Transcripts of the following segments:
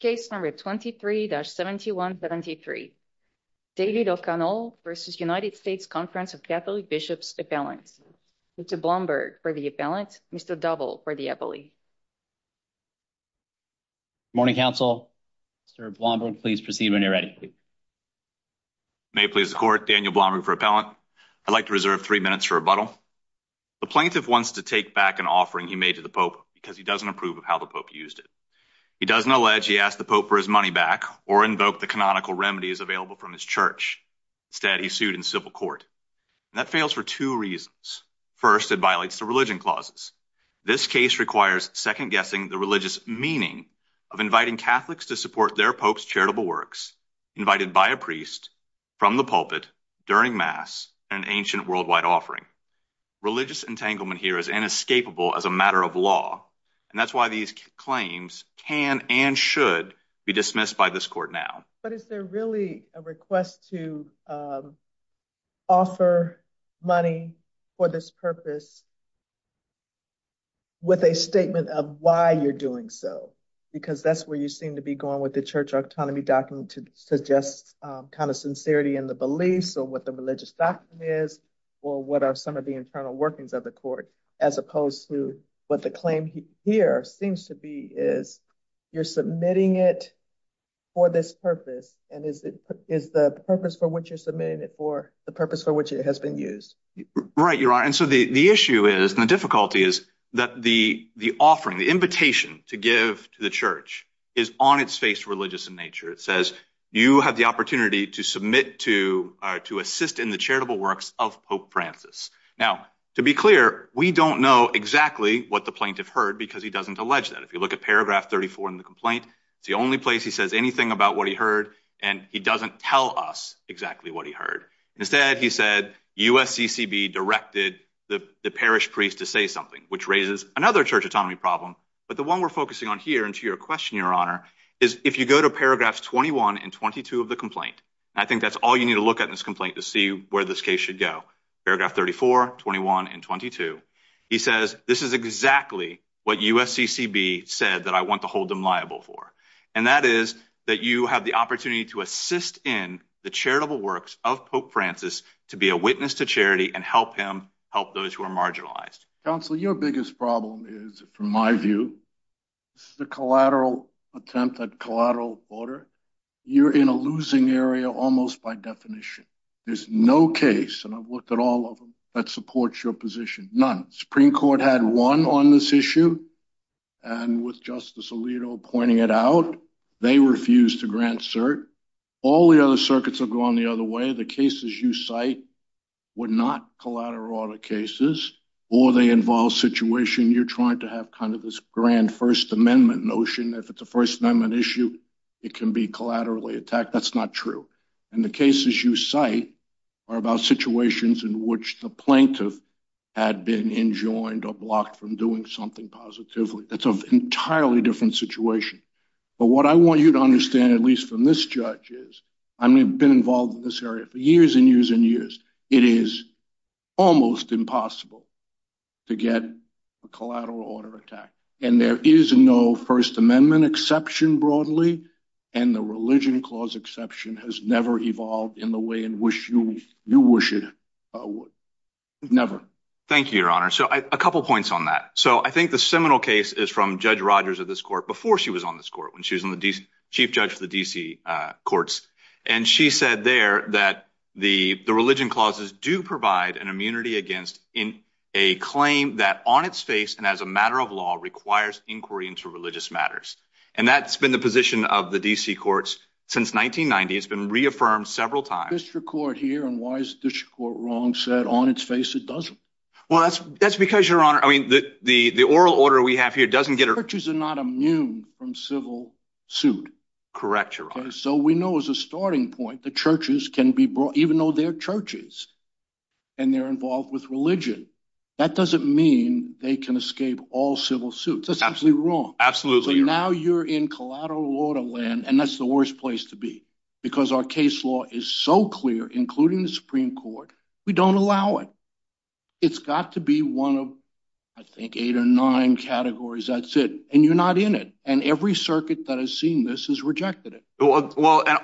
Case number 23-7173. David O'Connell v. United States Conference of Catholic Bishops Appellant. Mr. Blomberg for the appellant, Mr. Doble for the appellee. Good morning, Council. Mr. Blomberg, please proceed when you're ready. May it please the Court, Daniel Blomberg for appellant. I'd like to reserve three minutes for rebuttal. The plaintiff wants to take back an offering he made to the Pope because he doesn't approve of how the Pope used it. He doesn't allege he asked the Pope for his money back or invoke the canonical remedies available from his church. Instead, he's sued in civil court. That fails for two reasons. First, it violates the religion clauses. This case requires second-guessing the religious meaning of inviting Catholics to support their Pope's charitable works, invited by a priest, from the pulpit, during Mass, an ancient worldwide offering. Religious entanglement here is inescapable as a matter of law. And that's why these claims can and should be dismissed by this court now. But is there really a request to offer money for this purpose with a statement of why you're doing so? Because that's where you seem to be going with the church autonomy document to suggest kind of sincerity in the beliefs or what the religious doctrine is or what are some of the internal workings of the court, as opposed to what the claim here seems to be is you're submitting it for this purpose. And is the purpose for which you're submitting it for the purpose for which it has been used? Right, you're right. And so the issue is and the difficulty is that the offering, the invitation to give to the church is on its face religious in nature. It says you have the opportunity to submit to or to assist in the charitable works of Pope Francis. Now, to be clear, we don't know exactly what the plaintiff heard because he doesn't allege that. If you look at paragraph 34 in the complaint, it's the only place he says anything about what he heard and he doesn't tell us exactly what he heard. Instead, he said USCCB directed the parish priest to say something, which raises another church autonomy problem. But the one we're focusing on here and to your question, Your Honor, is if you go to paragraphs 21 and 22 of the complaint, I think that's all you need to look at in this complaint to see where this case should go. Paragraph 34, 21, and 22. He says this is exactly what USCCB said that I want to hold them liable for. And that is that you have the opportunity to assist in the charitable works of Pope Francis to be a witness to charity and help him help those who are marginalized. Counsel, your biggest problem is, from my view, the collateral attempt at collateral order. You're in a losing area almost by definition. There's no case, and I've looked at all of them, that supports your position. None. The Supreme Court had one on this issue. And with Justice Alito pointing it out, they refused to grant cert. All the other circuits have gone the other way. The cases you cite were not collateral order cases, or they involve a situation you're trying to have kind of this grand First Amendment notion. If it's a First Amendment issue, it can be collaterally attacked. That's not true. And the cases you cite are about situations in which the plaintiff had been enjoined or blocked from doing something positively. That's an entirely different situation. But what I want you to understand, at least from this judge, is I've been involved in this area for years and years and years. It is almost impossible to get a collateral order attack. And there is no First Amendment exception broadly, and the Religion Clause exception has never evolved in the way you wish it would. Never. Thank you, Your Honor. So, a couple points on that. So, I think the seminal case is from Judge Rogers of this court before she was on this court, when she was the chief judge for the D.C. courts. And she said there that the Religion Clauses do provide an immunity against a claim that on its face and as a matter of law requires inquiry into religious matters. And that's been the position of the D.C. courts since 1990. It's been reaffirmed several times. The district court here, and why is the district court wrong, said on its face it doesn't. Well, that's because, Your Honor, I mean, the oral order we have here doesn't get a... Churches are not immune from civil suit. Correct, Your Honor. So, we know as a starting point that churches can be brought, even though they're churches, and they're involved with religion, that doesn't mean they can escape all civil suits. That's absolutely wrong. So, now you're in collateral order land, and that's the worst place to be. Because our case law is so clear, including the Supreme Court, we don't allow it. It's got to be one of, I think, eight or nine categories. That's it. And you're not in it. And every circuit that has seen this has rejected it. Well, and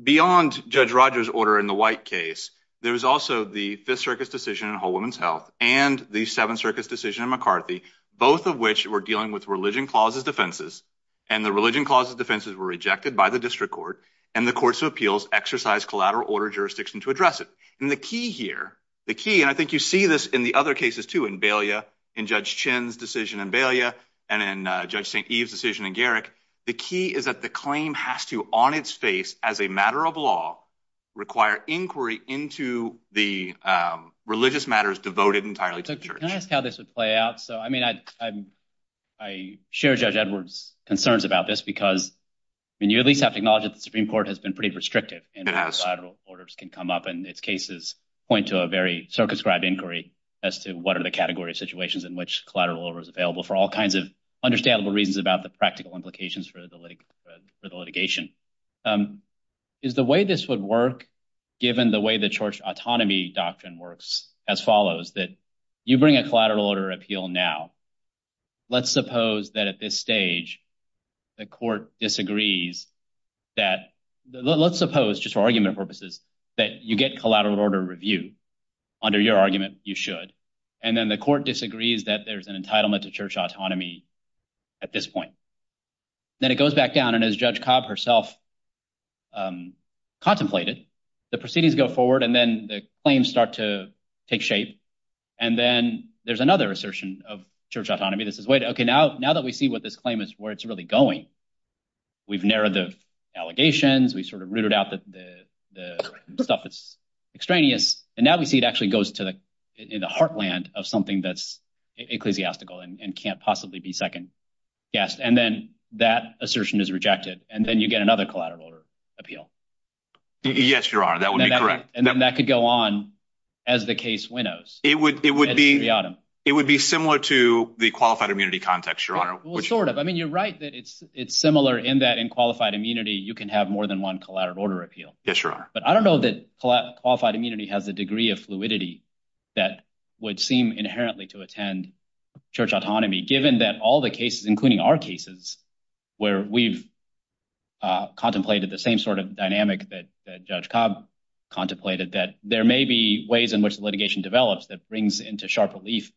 beyond Judge Rogers' order in the White case, there was also the Fifth Circus decision in Whole Woman's Health and the Seventh Circus decision in McCarthy, both of which were dealing with religion clauses defenses. And the religion clauses defenses were rejected by the district court, and the courts of appeals exercised collateral order jurisdiction to address it. And the key here, the key, and I think you see this in the other cases, too, in Balea, in Judge Chinn's decision in Balea, and in Judge St. Eve's decision in Garrick, the key is that the claim has to, on its face, as a matter of law, require inquiry into the religious matters devoted entirely to the church. Can I ask how this would play out? So, I mean, I share Judge Edwards' concerns about this because, I mean, you at least have to acknowledge that the Supreme Court has been pretty restrictive in how collateral orders can come up, and its cases point to a very circumscribed inquiry as to what are the category of situations in which collateral order is available for all kinds of understandable reasons about the practical implications for the litigation. Is the way this would work, given the way the church autonomy doctrine works, as follows, that you bring a collateral order appeal now. Let's suppose that at this stage, the court disagrees that, let's suppose, just for argument purposes, that you get collateral order review. Under your argument, you should. And then the court disagrees that there's an entitlement to church autonomy at this point. Then it goes back down, and as Judge Cobb herself contemplated, the proceedings go forward, and then the claims start to take shape, and then there's another assertion of church autonomy that says, wait, okay, now that we see what this claim is, where it's really going, we've narrowed the allegations, we've sort of rooted out the stuff that's extraneous, and now we see it actually goes to the heartland of something that's ecclesiastical and can't possibly be second-guessed. And then that assertion is rejected, and then you get another collateral order appeal. Yes, Your Honor, that would be correct. And then that could go on as the case winnows. It would be similar to the qualified immunity context, Your Honor. Well, sort of. I mean, you're right that it's similar in that in qualified immunity, you can have more than one collateral order appeal. Yes, Your Honor. But I don't know that qualified immunity has the degree of fluidity that would seem inherently to attend church autonomy, given that all the cases, including our cases, where we've contemplated the same sort of dynamic that Judge Cobb contemplated, that there may be ways in which the litigation develops that brings into sharp relief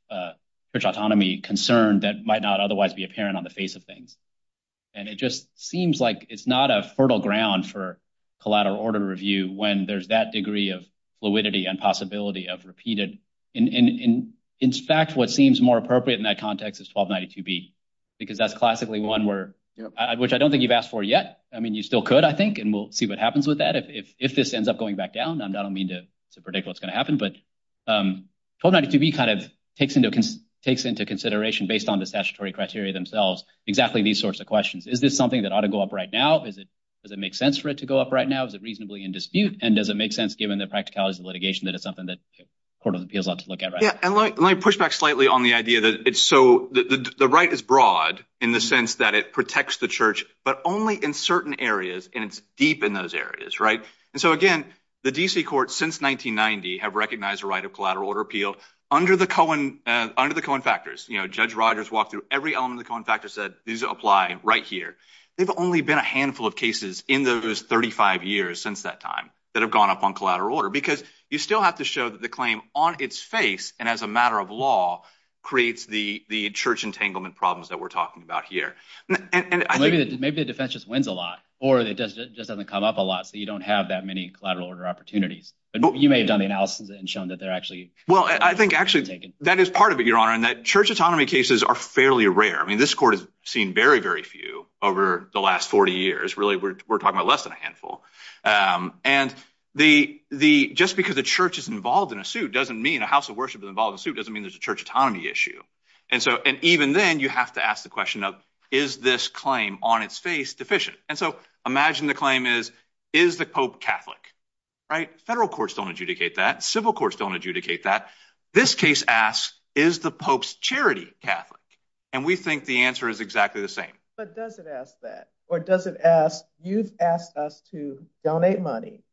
church autonomy concern that might not otherwise be apparent on the face of things. And it just seems like it's not a fertile ground for collateral order review when there's that degree of fluidity and possibility of repeated. In fact, what seems more appropriate in that context is 1292B, because that's classically one where, which I don't think you've asked for yet. I mean, you still could, I think, and we'll see what happens with that. If this ends up going back down, I don't mean to predict what's going to happen, but 1292B kind of takes into consideration, based on the statutory criteria themselves, exactly these sorts of questions. Is this something that ought to go up right now? Does it make sense for it to go up right now? Is it reasonably in dispute? And does it make sense, given the practicalities of litigation, that it's something that the Court of Appeals ought to look at right now? Yeah, and let me push back slightly on the idea that it's so, the right is broad in the sense that it protects the church, but only in certain areas, and it's deep in those areas, right? And so, again, the D.C. courts, since 1990, have recognized the right of collateral order appeal under the Cohen factors. Judge Rogers walked through every element of the Cohen factors, said, these apply right here. There have only been a handful of cases in those 35 years since that time that have gone up on collateral order, because you still have to show that the claim on its face, and as a matter of law, creates the church entanglement problems that we're talking about here. Maybe the defense just wins a lot, or it just doesn't come up a lot, so you don't have that many collateral order opportunities. You may have done the analysis and shown that they're actually— Well, I think, actually, that is part of it, Your Honor, in that church autonomy cases are fairly rare. I mean, this court has seen very, very few over the last 40 years. Really, we're talking about less than a handful. And just because a church is involved in a suit doesn't mean a house of worship is involved in a suit doesn't mean there's a church autonomy issue. And even then, you have to ask the question of, is this claim on its face deficient? And so, imagine the claim is, is the pope Catholic? Federal courts don't adjudicate that. Civil courts don't adjudicate that. This case asks, is the pope's charity Catholic? And we think the answer is exactly the same. But does it ask that? Or does it ask, you've asked us to donate money.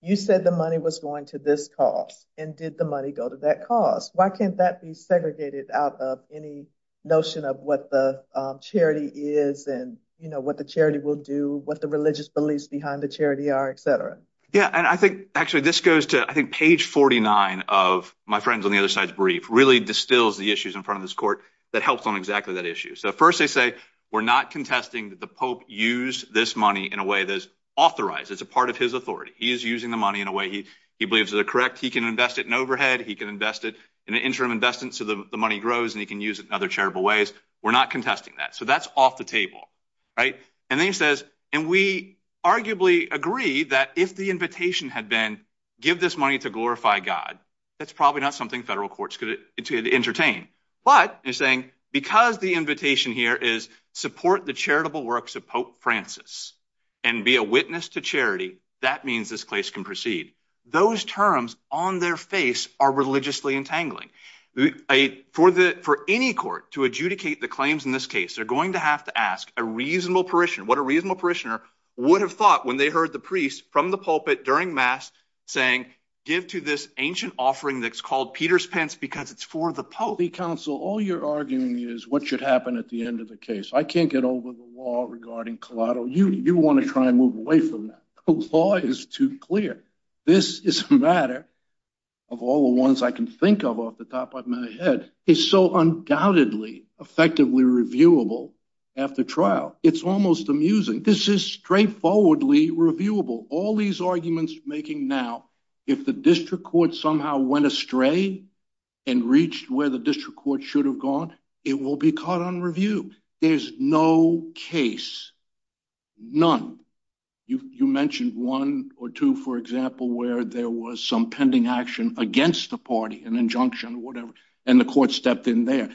You said the money was going to this cause. And did the money go to that cause? Why can't that be segregated out of any notion of what the charity is and what the charity will do, what the religious beliefs behind the charity are, et cetera? Yeah, and I think, actually, this goes to, I think, page 49 of my friend's on the other side's brief really distills the issues in front of this court that helps on exactly that issue. So first they say, we're not contesting that the pope used this money in a way that is authorized. It's a part of his authority. He is using the money in a way he believes is correct. He can invest it in overhead. He can invest it in an interim investment so the money grows and he can use it in other charitable ways. We're not contesting that. So that's off the table. And then he says, and we arguably agree that if the invitation had been give this money to glorify God, that's probably not something federal courts could entertain. But, he's saying, because the invitation here is support the charitable works of Pope Francis and be a witness to charity, that means this case can proceed. Those terms, on their face, are religiously entangling. For any court to adjudicate the claims in this case, for any court to adjudicate the claims in this case, they're going to have to ask a religiously entangling What a reasonable parishioner would have thought when they heard the priest from the pulpit during Mass saying, give to this ancient offering that's called Peter's Pence because it's for the Pope. Counsel, all you're arguing is what should happen at the end of the case. I can't get over the law regarding collateral. You want to try and move away from that. The law is too clear. This is a matter of all the ones I can think of off the top of my head. It's so undoubtedly effectively reviewable after trial. It's almost amusing. This is straightforwardly reviewable. All these arguments you're making now, if the district court somehow went astray and reached where the district court should have gone, it will be caught on review. There's no case. You mentioned one or two, for example, where there was some pending action against the party, an injunction or whatever, and the court stepped in there.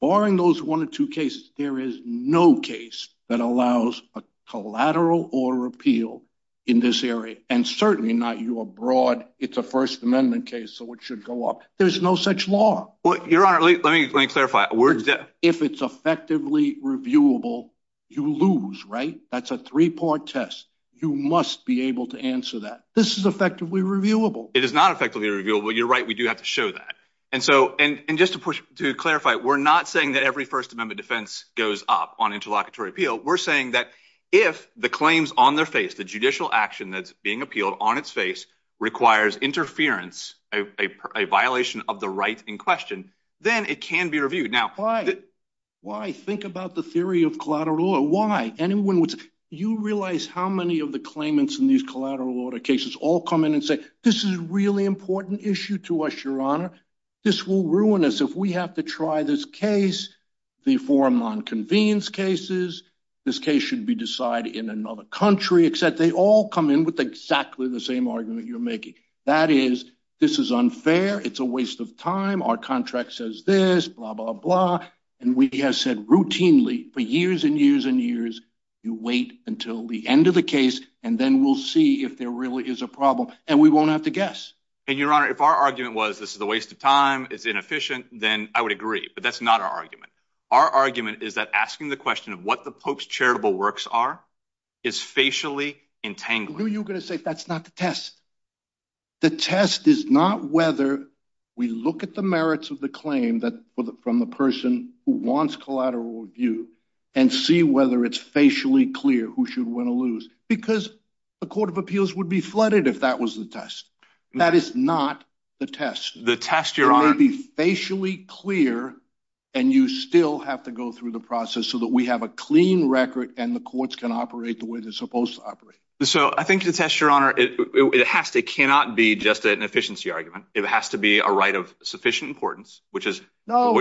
Barring those one or two cases, there is no case that allows a collateral or repeal in this area. Certainly not your broad, it's a First Amendment case, so it should go up. There's no such law. Let me clarify. If it's effectively reviewable, you lose, right? That's a three-part test. You must be able to answer that. This is effectively reviewable. It is not effectively reviewable. You're right, we do have to show that. Just to clarify, we're not saying that every First Amendment defense goes up on interlocutory repeal. We're saying that if the claims on their face, the judicial action that's being appealed on its face, requires interference, a violation of the right in question, then it can be reviewed. Why? Think about the theory of collateral order. Why? You realize how many of the claimants in these collateral order cases all come in and say, this is a really important issue to us, Your Honor. This will ruin us if we have to try this case, the forum on convenience cases, this case should be decided in another country, except they all come in with exactly the same argument you're making. That is, this is unfair, it's a waste of time, our contract says this, blah, blah, blah, and we have said routinely for years and years and years, you wait until the end of the case, and then we'll see if there really is a problem, and we won't have to guess. And Your Honor, if our argument was this is a waste of time, it's inefficient, then I would agree, but that's not our argument. Our argument is that asking the question of what the Pope's charitable works are is facially entangling. No, you're going to say that's not the test. The test is not whether we look at the merits of the claim from the person who wants collateral review, and see whether it's facially clear who should win and who's going to lose, because the Court of Appeals would be flooded if that was the test. That is not the test. The test, Your Honor... It may be facially clear, and you still have to go through the process so that we have a clean record and the courts can operate the way they're supposed to operate. So, I think the test, Your Honor, it has to, it cannot be just an efficiency argument. It has to be a right of sufficient importance, which is... No,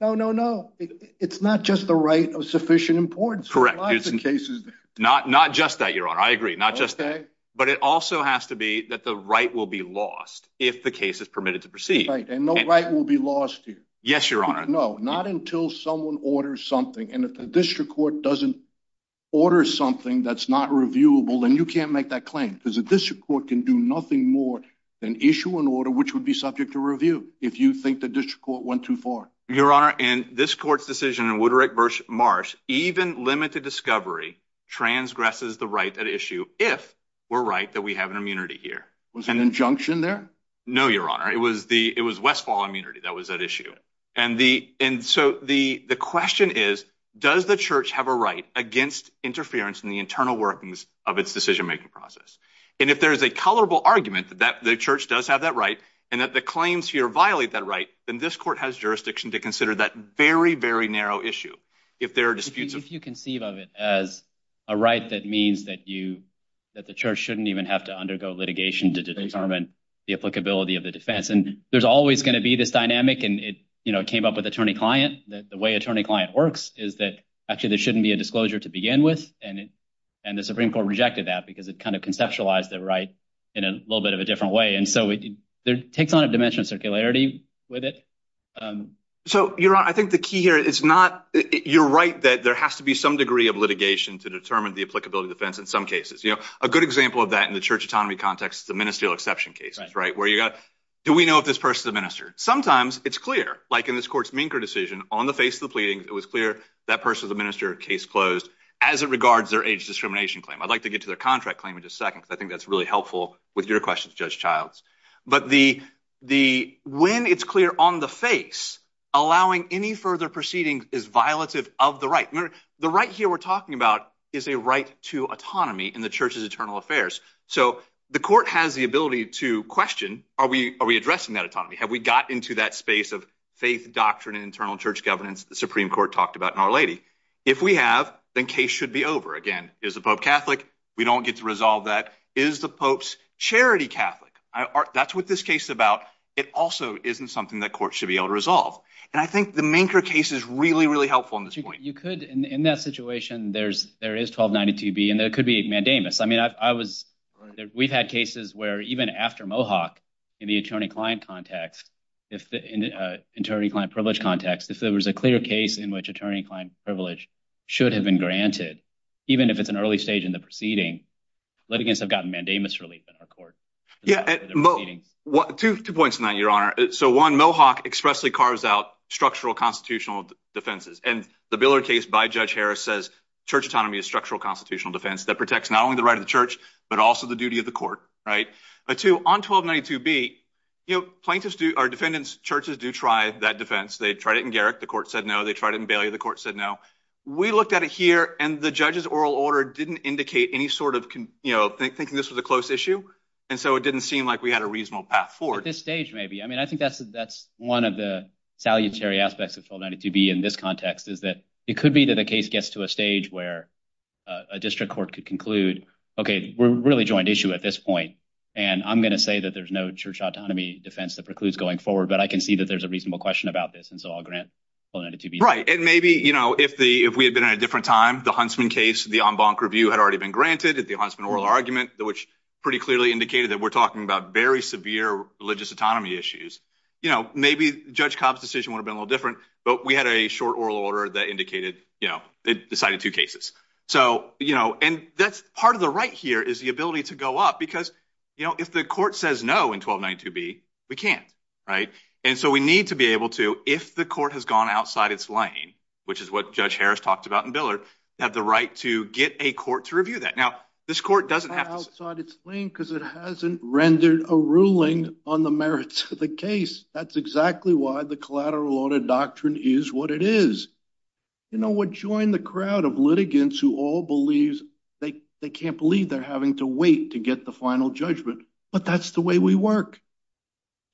no, no, no. It's not just the right of sufficient importance. Correct. Not just that, Your Honor. I agree. But it also has to be that the right will be lost if the case is permitted to proceed. Right, and no right will be lost here. Yes, Your Honor. No, not until someone orders something and if the district court doesn't order something that's not reviewable, then you can't make that claim, because the district court can do nothing more than issue an order which would be subject to review if you think the district court went too far. Your Honor, and this court's decision in Woodrick v. Marsh, even limited discovery, transgresses the right at issue if we're right that we have an immunity here. Was there an injunction there? No, Your Honor. It was Westfall immunity that was at issue. And so, the question is, does the church have a right against interference in the internal workings of its decision-making process? And if there's a colorable argument that the church does have that right, and that the claims here violate that right, then this court has jurisdiction to consider that very, very narrow issue if there are disputes. If you conceive of it as a right that means that the church shouldn't even have to undergo litigation to determine the applicability of the defense, and there's always going to be this dynamic, and it came up with attorney-client, that the way attorney-client works is that actually there shouldn't be a disclosure to begin with, and the Supreme Court rejected that because it kind of conceptualized the right in a little bit of a different way. And so, it takes on a dimension of circularity with it. So, Your Honor, I think the key here is not, you're right that there has to be some degree of litigation to determine the applicability of defense in some cases. A good example of that in the church autonomy context is the ministerial exception cases, right? Do we know if this person's a minister? Sometimes, it's clear, like in this court's Minker decision, on the face of the pleading, it was clear that person's a minister, case closed, as it regards their age discrimination claim. I'd like to get to their contract claim in just a second, because I think that's really helpful with your questions, Judge Childs. But the when it's clear on the face, allowing any further proceeding is violative of the right. The right here we're talking about is a right to autonomy in the church's eternal affairs. So, the court has the ability to question, are we addressing that autonomy? Have we got into that space of faith, doctrine, and internal church governance the Supreme Court talked about in Our Lady? If we have, then case should be over. Again, is the Pope Catholic? We don't get to resolve that. Is the Pope's charity Catholic? That's what this case is about. It also isn't something that courts should be able to resolve. And I think the Minker case is really, really helpful in this point. You could, in that situation, there is 1292 B, and there could be mandamus. I mean, I was we've had cases where even after Mohawk, in the attorney client context, in the attorney client privilege context, if there was a clear case in which attorney client privilege should have been granted, even if it's an early stage in the proceeding, litigants have gotten mandamus relief in our court. Two points on that, Your Honor. One, Mohawk expressly carves out structural constitutional defenses. And the Billard case by Judge Harris says church autonomy is structural constitutional defense that protects not only the right of the church, but also the duty of the court. Two, on 1292 B, plaintiffs do, or defendants, churches do try that defense. They tried it in Garrick, the court said no. They tried it in Bailey, the court said no. We looked at it here, and the judge's oral order didn't indicate any sort of thinking this was a close issue, and so it didn't seem like we had a reasonable path forward. At this stage, maybe. I mean, I think that's one of the salutary aspects of 1292 B in this context, is that it could be that a case gets to a stage where a district court could conclude, okay, we're really joined issue at this point, and I'm going to say that there's no church autonomy defense that precludes going forward, but I can see that there's a reasonable question about this, and so I'll grant 1292 B. Right, and maybe, you know, if we had been at a different time, the Huntsman case, the en banc review had already been granted, the Huntsman oral argument, which pretty clearly indicated that we're talking about very severe religious autonomy issues, you know, maybe Judge Cobb's decision would have been a little different, but we had a short oral order that indicated, you know, decided two cases. So, you know, and that's part of the right here, is the ability to go up, because, you know, if the court says no in 1292 B, we can't, right? And so we need to be able to, if the court has gone outside its lane, which is what Judge Harris talked about in Billard, have the right to get a court to review that. Now, this court doesn't have to... Outside its lane because it hasn't rendered a ruling on the merits of the case. That's exactly why the collateral audit doctrine is what it is. You know, what joined the crowd of litigants who all believe they can't believe they're having to wait to get the final judgment, but that's the way we work.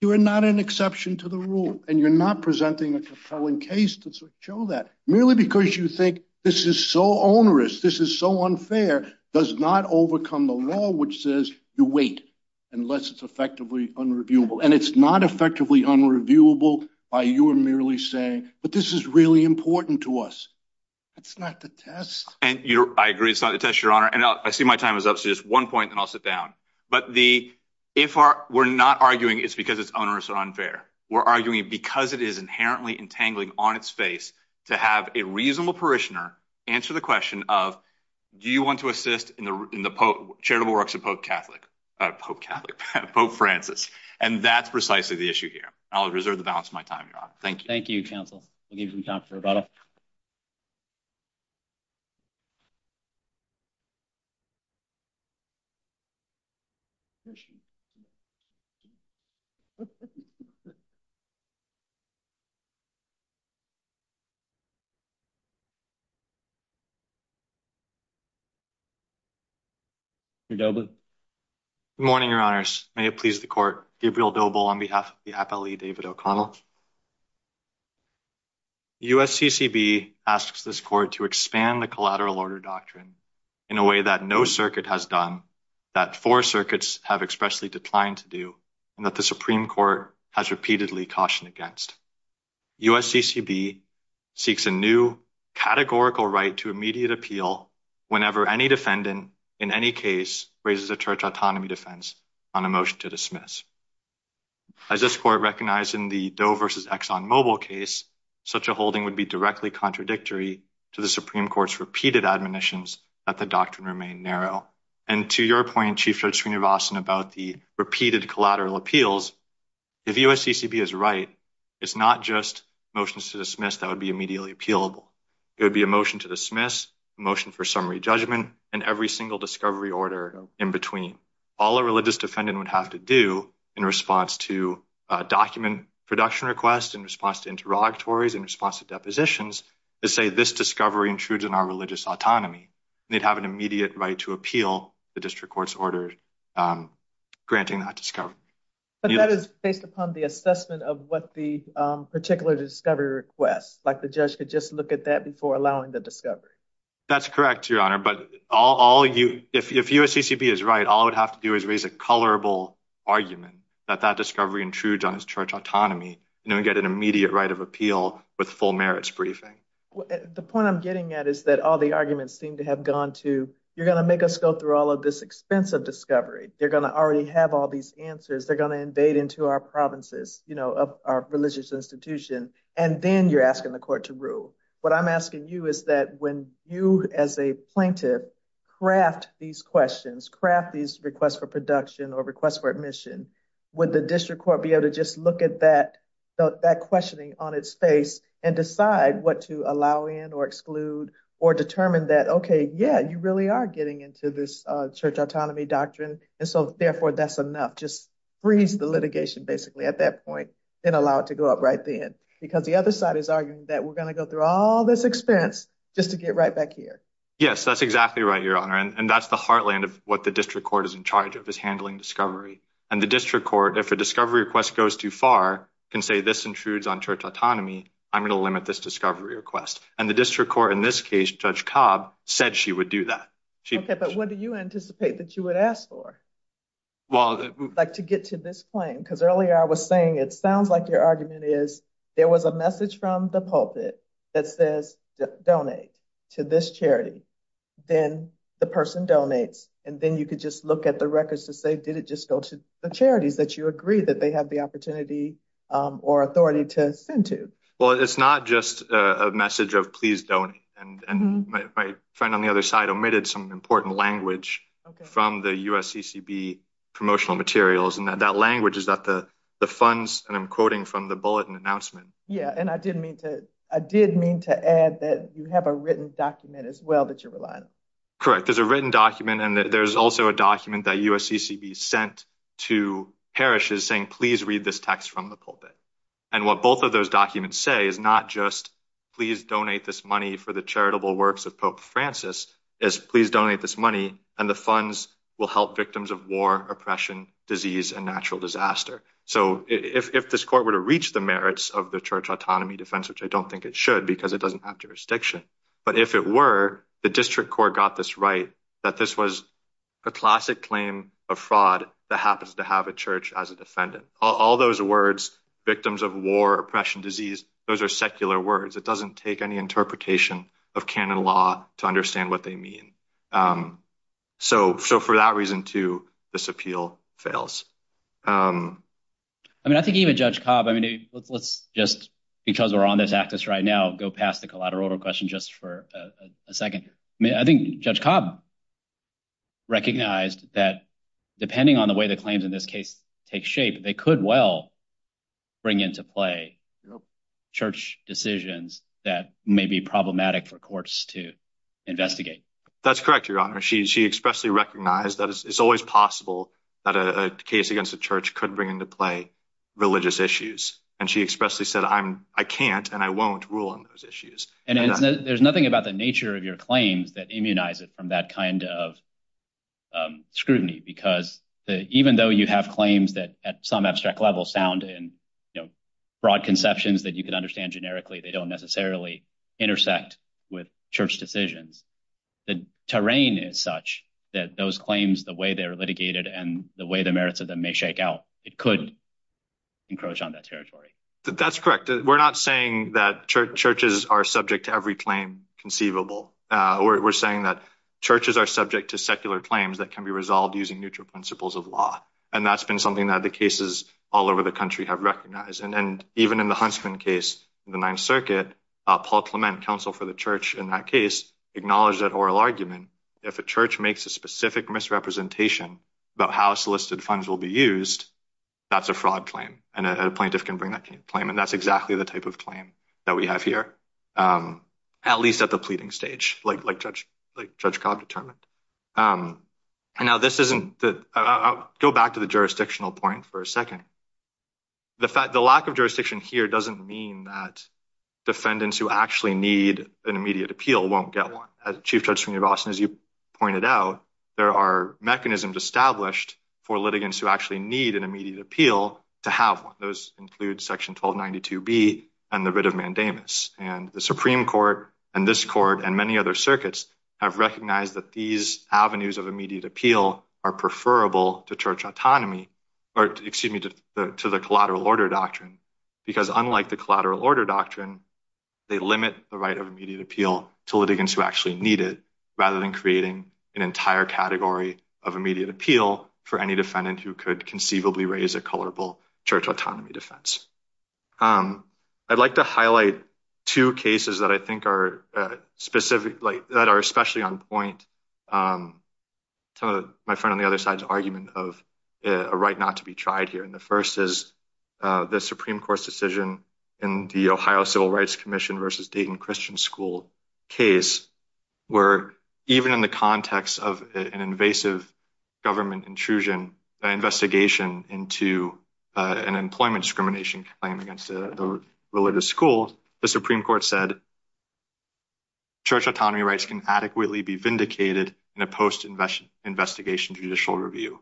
You are not an exception to the rule, and you're not presenting a compelling case to show that. Merely because you think, this is so onerous, this is so unfair, does not overcome the law which says you wait, unless it's effectively unreviewable. And it's not effectively unreviewable by your merely saying, but this is really important to us. That's not the test. And I agree, it's not the test, Your Honor, and I see my time is up, so just one point, and I'll sit down. But the... If we're not arguing, it's because it's onerous or unfair, we're arguing because it is inherently entangling on its face to have a reasonable parishioner answer the question of do you want to assist in the charitable works of Pope Catholic? Pope Catholic? Pope Francis. And that's precisely the issue here. I'll reserve the balance of my time, Your Honor. Thank you. Thank you, counsel. We'll give you some time for rebuttal. Mr. Dobley. Good morning, Your Honors. May it please the Court, Gabriel Doble on behalf of the Appellee David O'Connell. The U.S. C.C.B. asks this Court to expand the collateral order doctrine in a way that no circuit has done, that four circuits have expressly declined to do, and that the Supreme Court has repeatedly cautioned against. U.S. C.C.B. seeks a new categorical right to immediate appeal whenever any defendant in any case raises a church autonomy defense on a motion to dismiss. As this Court recognized in the Doe v. Exxon Mobile case, such a holding would be directly contradictory to the Supreme Court's repeated admonitions that the doctrine remain narrow. And to your point, Chief Judge Sreenivasan, about the repeated collateral appeals, if U.S. C.C.B. is right, it's not just motions to dismiss that would be immediately appealable. It would be a motion to dismiss, a motion for summary judgment, and every single discovery order in between. All a religious defendant would have to do in response to a document production request, in response to interrogatories, in response to depositions is say, this discovery intrudes on our religious autonomy. They'd have an immediate right to appeal the district court's order granting that discovery. But that is based upon the assessment of what the particular discovery request, like the judge could just look at that before allowing the discovery. That's correct, Your Honor, but all you, if U.S. C.C.B. is right, all it would have to do is raise a colorable argument that that discovery intrudes on his church autonomy, and he'd get an immediate right of appeal with full merits briefing. The point I'm getting at is that all the arguments seem to have gone to you're going to make us go through all of this expensive discovery. They're going to already have all these answers. They're going to invade into our provinces, you know, our religious institution, and then you're asking the court to rule. What I'm asking you is that when you, as a plaintiff, craft these questions, craft these requests for production or requests for admission, would the district court be able to just look at that questioning on its face and decide what to allow in or exclude or determine that, okay, yeah, you really are getting into this church autonomy doctrine, and so, therefore, that's enough. Just freeze the litigation, basically, at that point, and allow it to go up right then, because the other side is arguing that we're going to go through all this expense just to get right back here. Yes, that's exactly right, Your Honor, and that's the heartland of what the district court is in charge of, is handling discovery, and the district court, if a discovery request goes too far, can say this intrudes on church autonomy, I'm going to limit this discovery request, and the district court, in this case, Judge Cobb, said she would do that. Okay, but what do you anticipate that you would ask for, like to get to this claim? Because earlier, I was saying, it sounds like your argument is there was a message from the pulpit that says, donate to this charity. Then the person donates, and then you could just look at the records to say, did it just go to the charities that you agree that they have the opportunity or authority to send to? Well, it's not just a message of please donate, and my friend on the other side omitted some important language from the USCCB promotional materials, and that language is that the funds, and I'm quoting from the bulletin announcement. Yeah, and I did mean to add that you have a written document as well that you're relying on. Correct, there's a written document and there's also a document that USCCB sent to this text from the pulpit. And what both of those documents say is not just please donate this money for the charitable works of Pope Francis, it's please donate this money and the funds will help victims of war, oppression, disease, and natural disaster. So if this court were to reach the merits of the church autonomy defense, which I don't think it should because it doesn't have jurisdiction, but if it were, the district court got this right that this was a classic claim of fraud that happens to have a church as a defendant. All those words, victims of war, oppression, disease, those are secular words. It doesn't take any interpretation of canon law to understand what they mean. So for that reason too, this appeal fails. I mean, I think even Judge Cobb, I mean, let's just, because we're on this axis right now, go past the collateral order question just for a second. I mean, I think Judge Cobb recognized that depending on the way the claims in this case take shape, they could well bring into play church decisions that may be problematic for courts to investigate. That's correct, Your Honor. She expressly recognized that it's always possible that a case against a church could bring into play religious issues. And she expressly said, I can't and I won't rule on those issues. And there's nothing about the nature of your claims that immunize it from that kind of scrutiny because even though you have claims that at some abstract level sound in broad conceptions that you can understand generically, they don't necessarily intersect with church decisions, the terrain is such that those claims, the way they're litigated and the way the merits of them may shake out, it could encroach on that territory. That's correct. We're not saying that churches are subject to every claim conceivable. We're saying that churches are subject to secular claims that can be resolved using neutral principles of law. And that's been something that the cases all over the country have recognized. And even in the Huntsman case in the Ninth Circuit, Paul Clement, counsel for the church in that case, acknowledged that oral argument if a church makes a specific misrepresentation about how solicited funds will be used, that's a fraud claim and a plaintiff can bring that claim. And that's exactly the type of claim that we have here, at least at the pleading stage, like Judge Cobb determined. I'll go back to the jurisdictional point for a second. The lack of jurisdiction here doesn't mean that defendants who actually need an immediate appeal won't get one. As you pointed out, there are mechanisms established for litigants who actually need an immediate appeal to have one. Those include section 1292B and the writ of mandamus. The Supreme Court and this court and many other circuits have recognized that these avenues of immediate appeal are preferable to church autonomy, or excuse me, to the collateral order doctrine. Because unlike the collateral order doctrine, they limit the right of immediate appeal to litigants who actually need it rather than creating an entire category of immediate appeal for any defendant who could conceivably raise a colorable church autonomy defense. I'd like to highlight two cases that I think are specific, that are especially on point to my friend on the other side's argument of a right not to be tried here. The first is the Supreme Court's decision in the Ohio Civil Rights Commission v. Dayton Christian School case where even in the context of an invasive government intrusion investigation into an employment discrimination claim against the religious school, the Supreme Court said church autonomy rights can adequately be vindicated in a post-investigation judicial review.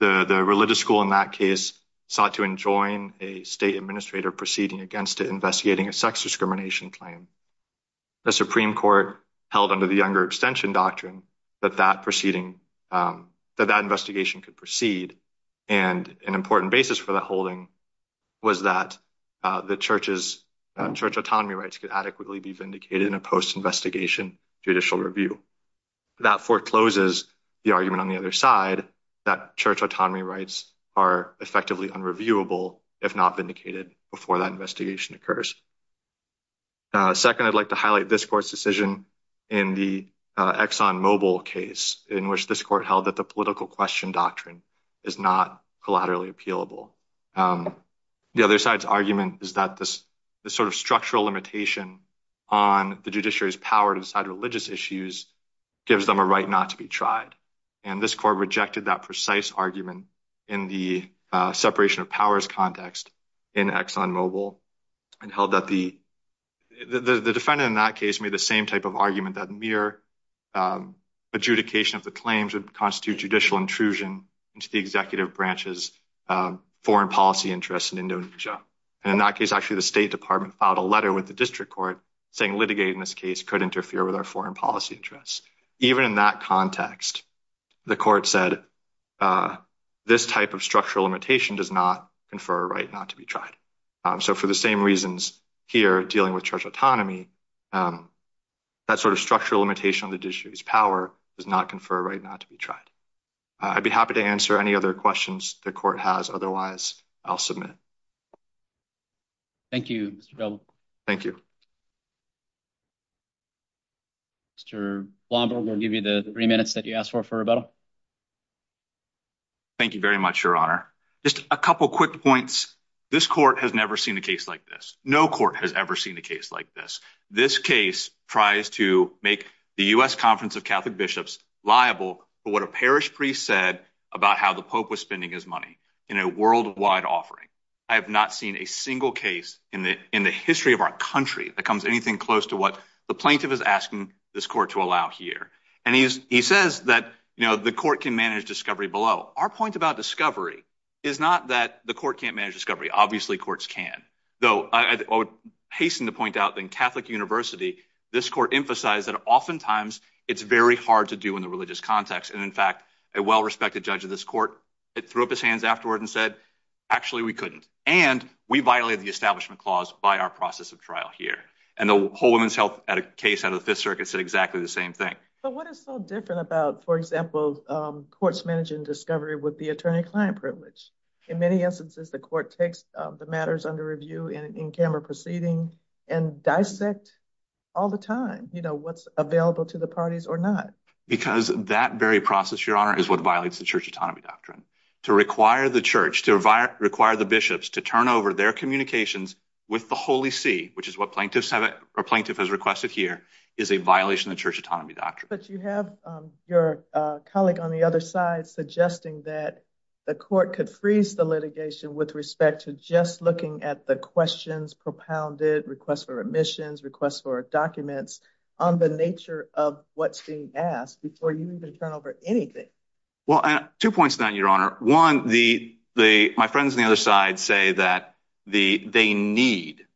The religious school in that case sought to enjoin a state administrator proceeding against it investigating a sex discrimination claim. The Supreme Court held under the Younger Extension Doctrine that that investigation could proceed, and an important basis for that holding was that the church's church autonomy rights could adequately be vindicated in a post-investigation judicial review. That forecloses the argument on the other side that church autonomy rights are effectively unreviewable if not vindicated before that investigation occurs. Second, I'd like to highlight this court's decision in the ExxonMobil case in which this court held that the political question doctrine is not collaterally appealable. The other side's argument is that the structural limitation on the judiciary's power to decide religious issues gives them a right not to be tried, and this court rejected that precise argument in the separation of powers context in ExxonMobil and held that the defendant in that case made the same type of argument that mere adjudication of the claims would constitute judicial intrusion into the executive branch's foreign policy interests in Indonesia. And in that case, actually, the State Department filed a letter with the district court saying litigating this case could interfere with our foreign policy interests. Even in that context, the court said this type of structural limitation does not confer a right not to be tried. So for the same reasons here dealing with church autonomy, that sort of structural limitation on the judiciary's power does not confer a right not to be tried. I'd be happy to answer any other questions the court has. Otherwise, I'll submit. Thank you, Mr. Blomberg. Thank you. Mr. Blomberg, I'll give you the three minutes that you asked for for rebuttal. Thank you very much, Your Honor. Just a couple quick points. This court has never seen a case like this. No court has ever seen a case like this. This case tries to make the U.S. Conference of Catholic Bishops liable for what a parish priest said about how the Pope was spending his money in a worldwide offering. I have not seen a single case in the history of our country that comes anything close to what the plaintiff is asking this court to allow here. And he says that the court can manage discovery below. Our point about discovery is not that the court can't manage discovery. Obviously, the courts can. Though, I hasten to point out that in Catholic University, this court emphasized that oftentimes, it's very hard to do in the religious context. And in fact, a well-respected judge of this court threw up his hands afterward and said, actually, we couldn't. And we violated the establishment clause by our process of trial here. And the whole Women's Health case out of the Fifth Circuit said exactly the same thing. But what is so different about, for example, courts managing discovery with the attorney-client privilege? In many instances, the court takes the matters under review in camera proceeding and dissect all the time, you know, what's available to the parties or not. Because that very process, Your Honor, is what violates the Church Autonomy Doctrine. To require the Church, to require the bishops to turn over their communications with the Holy See, which is what a plaintiff has requested here, is a violation of the Church Autonomy Doctrine. But you have your colleague on the other side suggesting that the court could freeze the litigation with respect to just looking at the questions propounded, requests for remissions, requests for documents, on the nature of what's being asked before you even turn over anything. Well, two points on that, Your Honor. One, my friends on the other side say that they need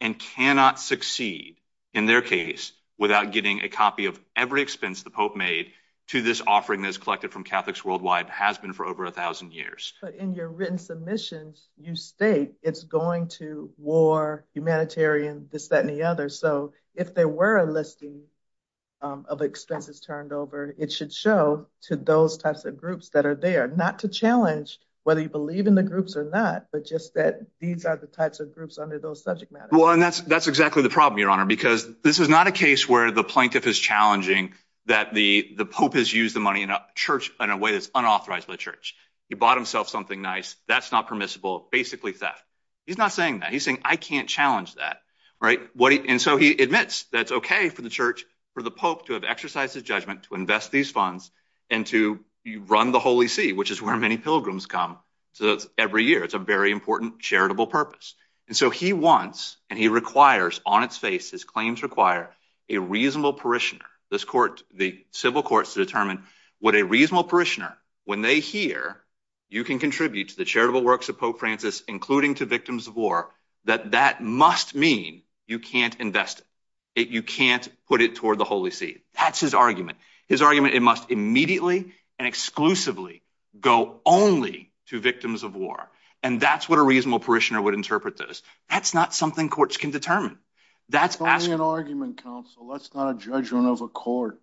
and cannot succeed in their case without getting a copy of every expense the Pope made to this offering that's collected from Catholics worldwide, has been for over a thousand years. But in your written submissions, you state it's going to war, humanitarian, this, that, and the other. So if there were a listing of expenses turned over, it should show to those types of groups that are there, not to challenge whether you believe in the groups or not, but just that these are the types of groups under those subject matters. Well, and that's exactly the problem, Your Honor, because this is not a case where the plaintiff is challenging that the Pope has used the money in a way that's unauthorized by the Church. He bought himself something nice, that's not permissible, basically theft. He's not saying that. He's saying, I can't challenge that. And so he admits that it's okay for the Church, for the Pope to have exercised his judgment to invest these funds and to run the Holy See, which is where many pilgrims come every year. It's a very important charitable purpose. And so he wants, and he requires on its face, his claims require, a reasonable parishioner. The civil courts determine what a reasonable parishioner, when they hear you can contribute to the charitable works of Pope Francis, including to victims of war, that that must mean you can't invest it. You can't put it toward the Holy See. That's his argument. His argument, it must immediately and exclusively go only to victims of war. And that's what a reasonable parishioner would interpret this. That's not something courts can determine. It's only an argument, counsel. That's not a judgment of a court.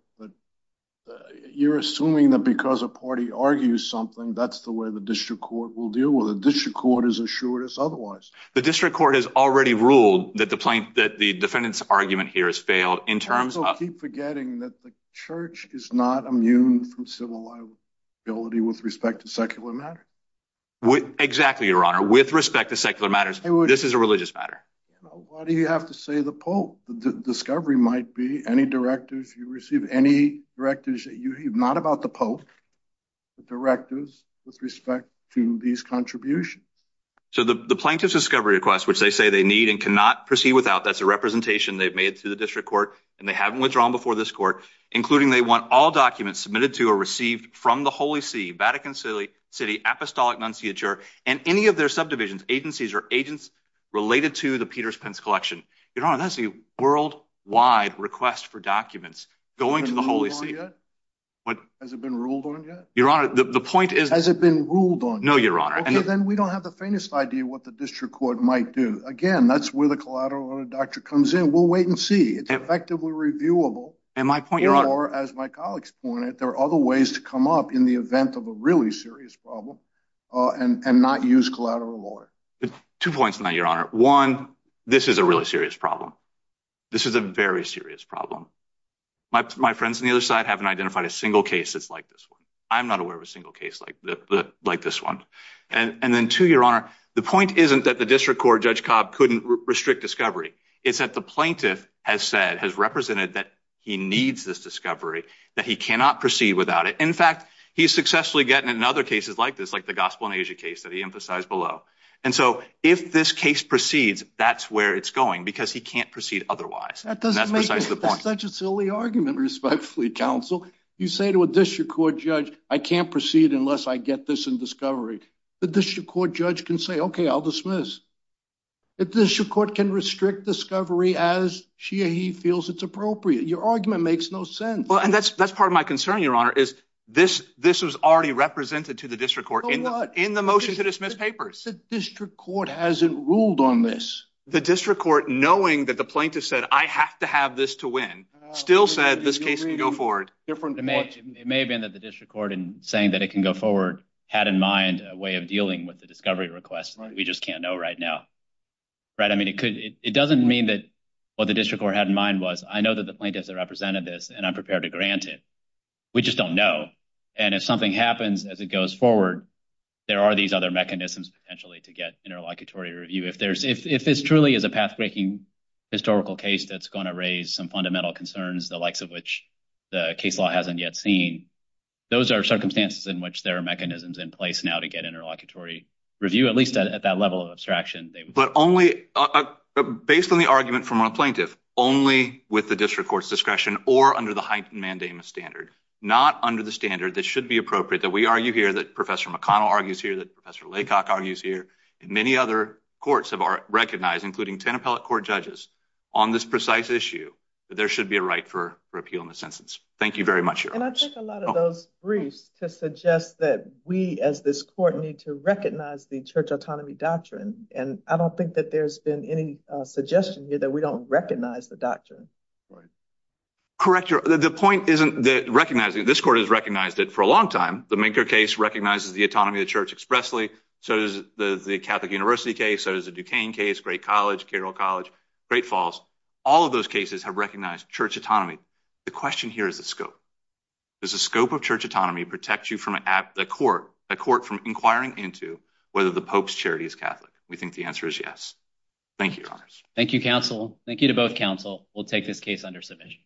You're assuming that because a party argues something, that's the way the district court will deal with it. The district court is assured as otherwise. The district court has already ruled that the defendant's argument here has failed in terms of... Also, keep forgetting that the Church is not immune from civil liability with respect to secular matters. Exactly, Your Honor. With respect to secular matters, this is a religious matter. Why do you have to say the Pope? The discovery might be any directives you receive, any directives that you... Not about the Pope, the directives with respect to these contributions. So the plaintiff's discovery request, which they say they need and cannot proceed without, that's a representation they've made to the district court, and they haven't withdrawn before this court, including they want all documents submitted to or received from the Holy See, Vatican City, Apostolic Nunciature, and any of their subdivisions, agencies, or agents related to the Peters-Pence collection. Your Honor, that's a worldwide request for documents going to the Holy See. Has it been ruled on yet? Has it been ruled on yet? Your Honor, the point is... Has it been ruled on yet? No, Your Honor. Okay, then we don't have the faintest idea what the district court might do. Again, that's where the collateral audit doctor comes in. We'll wait and see. It's effectively reviewable. And my point, Your Honor... Or, as my colleagues pointed, there are other ways to come up in the event of a really serious problem and not use collateral audit. Two points on that, Your Honor. One, this is a really serious problem. This is a very serious problem. My friends on the other side haven't identified a single case that's like this one. I'm not aware of a single case like this one. And then two, Your Honor, the point isn't that the district court, Judge Cobb, couldn't restrict discovery. It's that the plaintiff has said, has represented that he needs this discovery, that he cannot proceed without it. In fact, he's successfully getting it in other cases like this, like the Gospel in Asia case that he emphasized below. And so, if this case proceeds, that's where it's going, because he can't proceed otherwise. That's precisely the point. That's such a silly argument, respectfully, counsel. You say to a district court judge, I can't proceed unless I get this in discovery. The district court judge can say, okay, I'll dismiss. The district court can restrict discovery as she or he feels it's appropriate. Your argument makes no sense. Well, and that's part of my concern, Your Honor, is this was already represented to the district court in the motion to dismiss papers. The district court hasn't ruled on this. The district court, knowing that the plaintiff said, I have to have this to win, still said this case can go forward. It may have been that the district court, in saying that it can go forward, had in mind a way of dealing with the discovery request. We just can't know right now. It doesn't mean that what the district court had in mind was, I know that the plaintiff represented this, and I'm prepared to grant it. We just don't know. If something happens as it goes forward, there are these other mechanisms potentially to get interlocutory review. If this truly is a path-breaking historical case that's going to raise some fundamental concerns, the likes of which the case law hasn't yet seen, those are circumstances in which there are mechanisms in place now to get interlocutory review, at least at that level of abstraction. But only based on the argument from our plaintiff, only with the district court's discretion or under the heightened mandamus standard. Not under the standard that should be appropriate, that we argue here, that Professor McConnell argues here, that Professor Laycock argues here, and many other courts have recognized, including ten appellate court judges, on this precise issue, that there should be a right for repeal in this instance. Thank you very much, Your Honors. And I took a lot of those briefs to suggest that we, as this court, need to recognize the church autonomy doctrine, and I don't think that there's been any suggestion here that we don't recognize the doctrine. Correct. The point isn't that this court has recognized it for a long time. The Minker case recognizes the autonomy of the church expressly, so does the Catholic University case, so does the Duquesne case, Great College, Carroll College, Great Falls. All of those cases have recognized church autonomy. The question here is the scope. Does the scope of church autonomy protect you from a court from inquiring into whether the Pope's charity is Catholic? We think the answer is yes. Thank you, Your Honors. Thank you, counsel. Thank you to both counsel. We'll take this case under submission.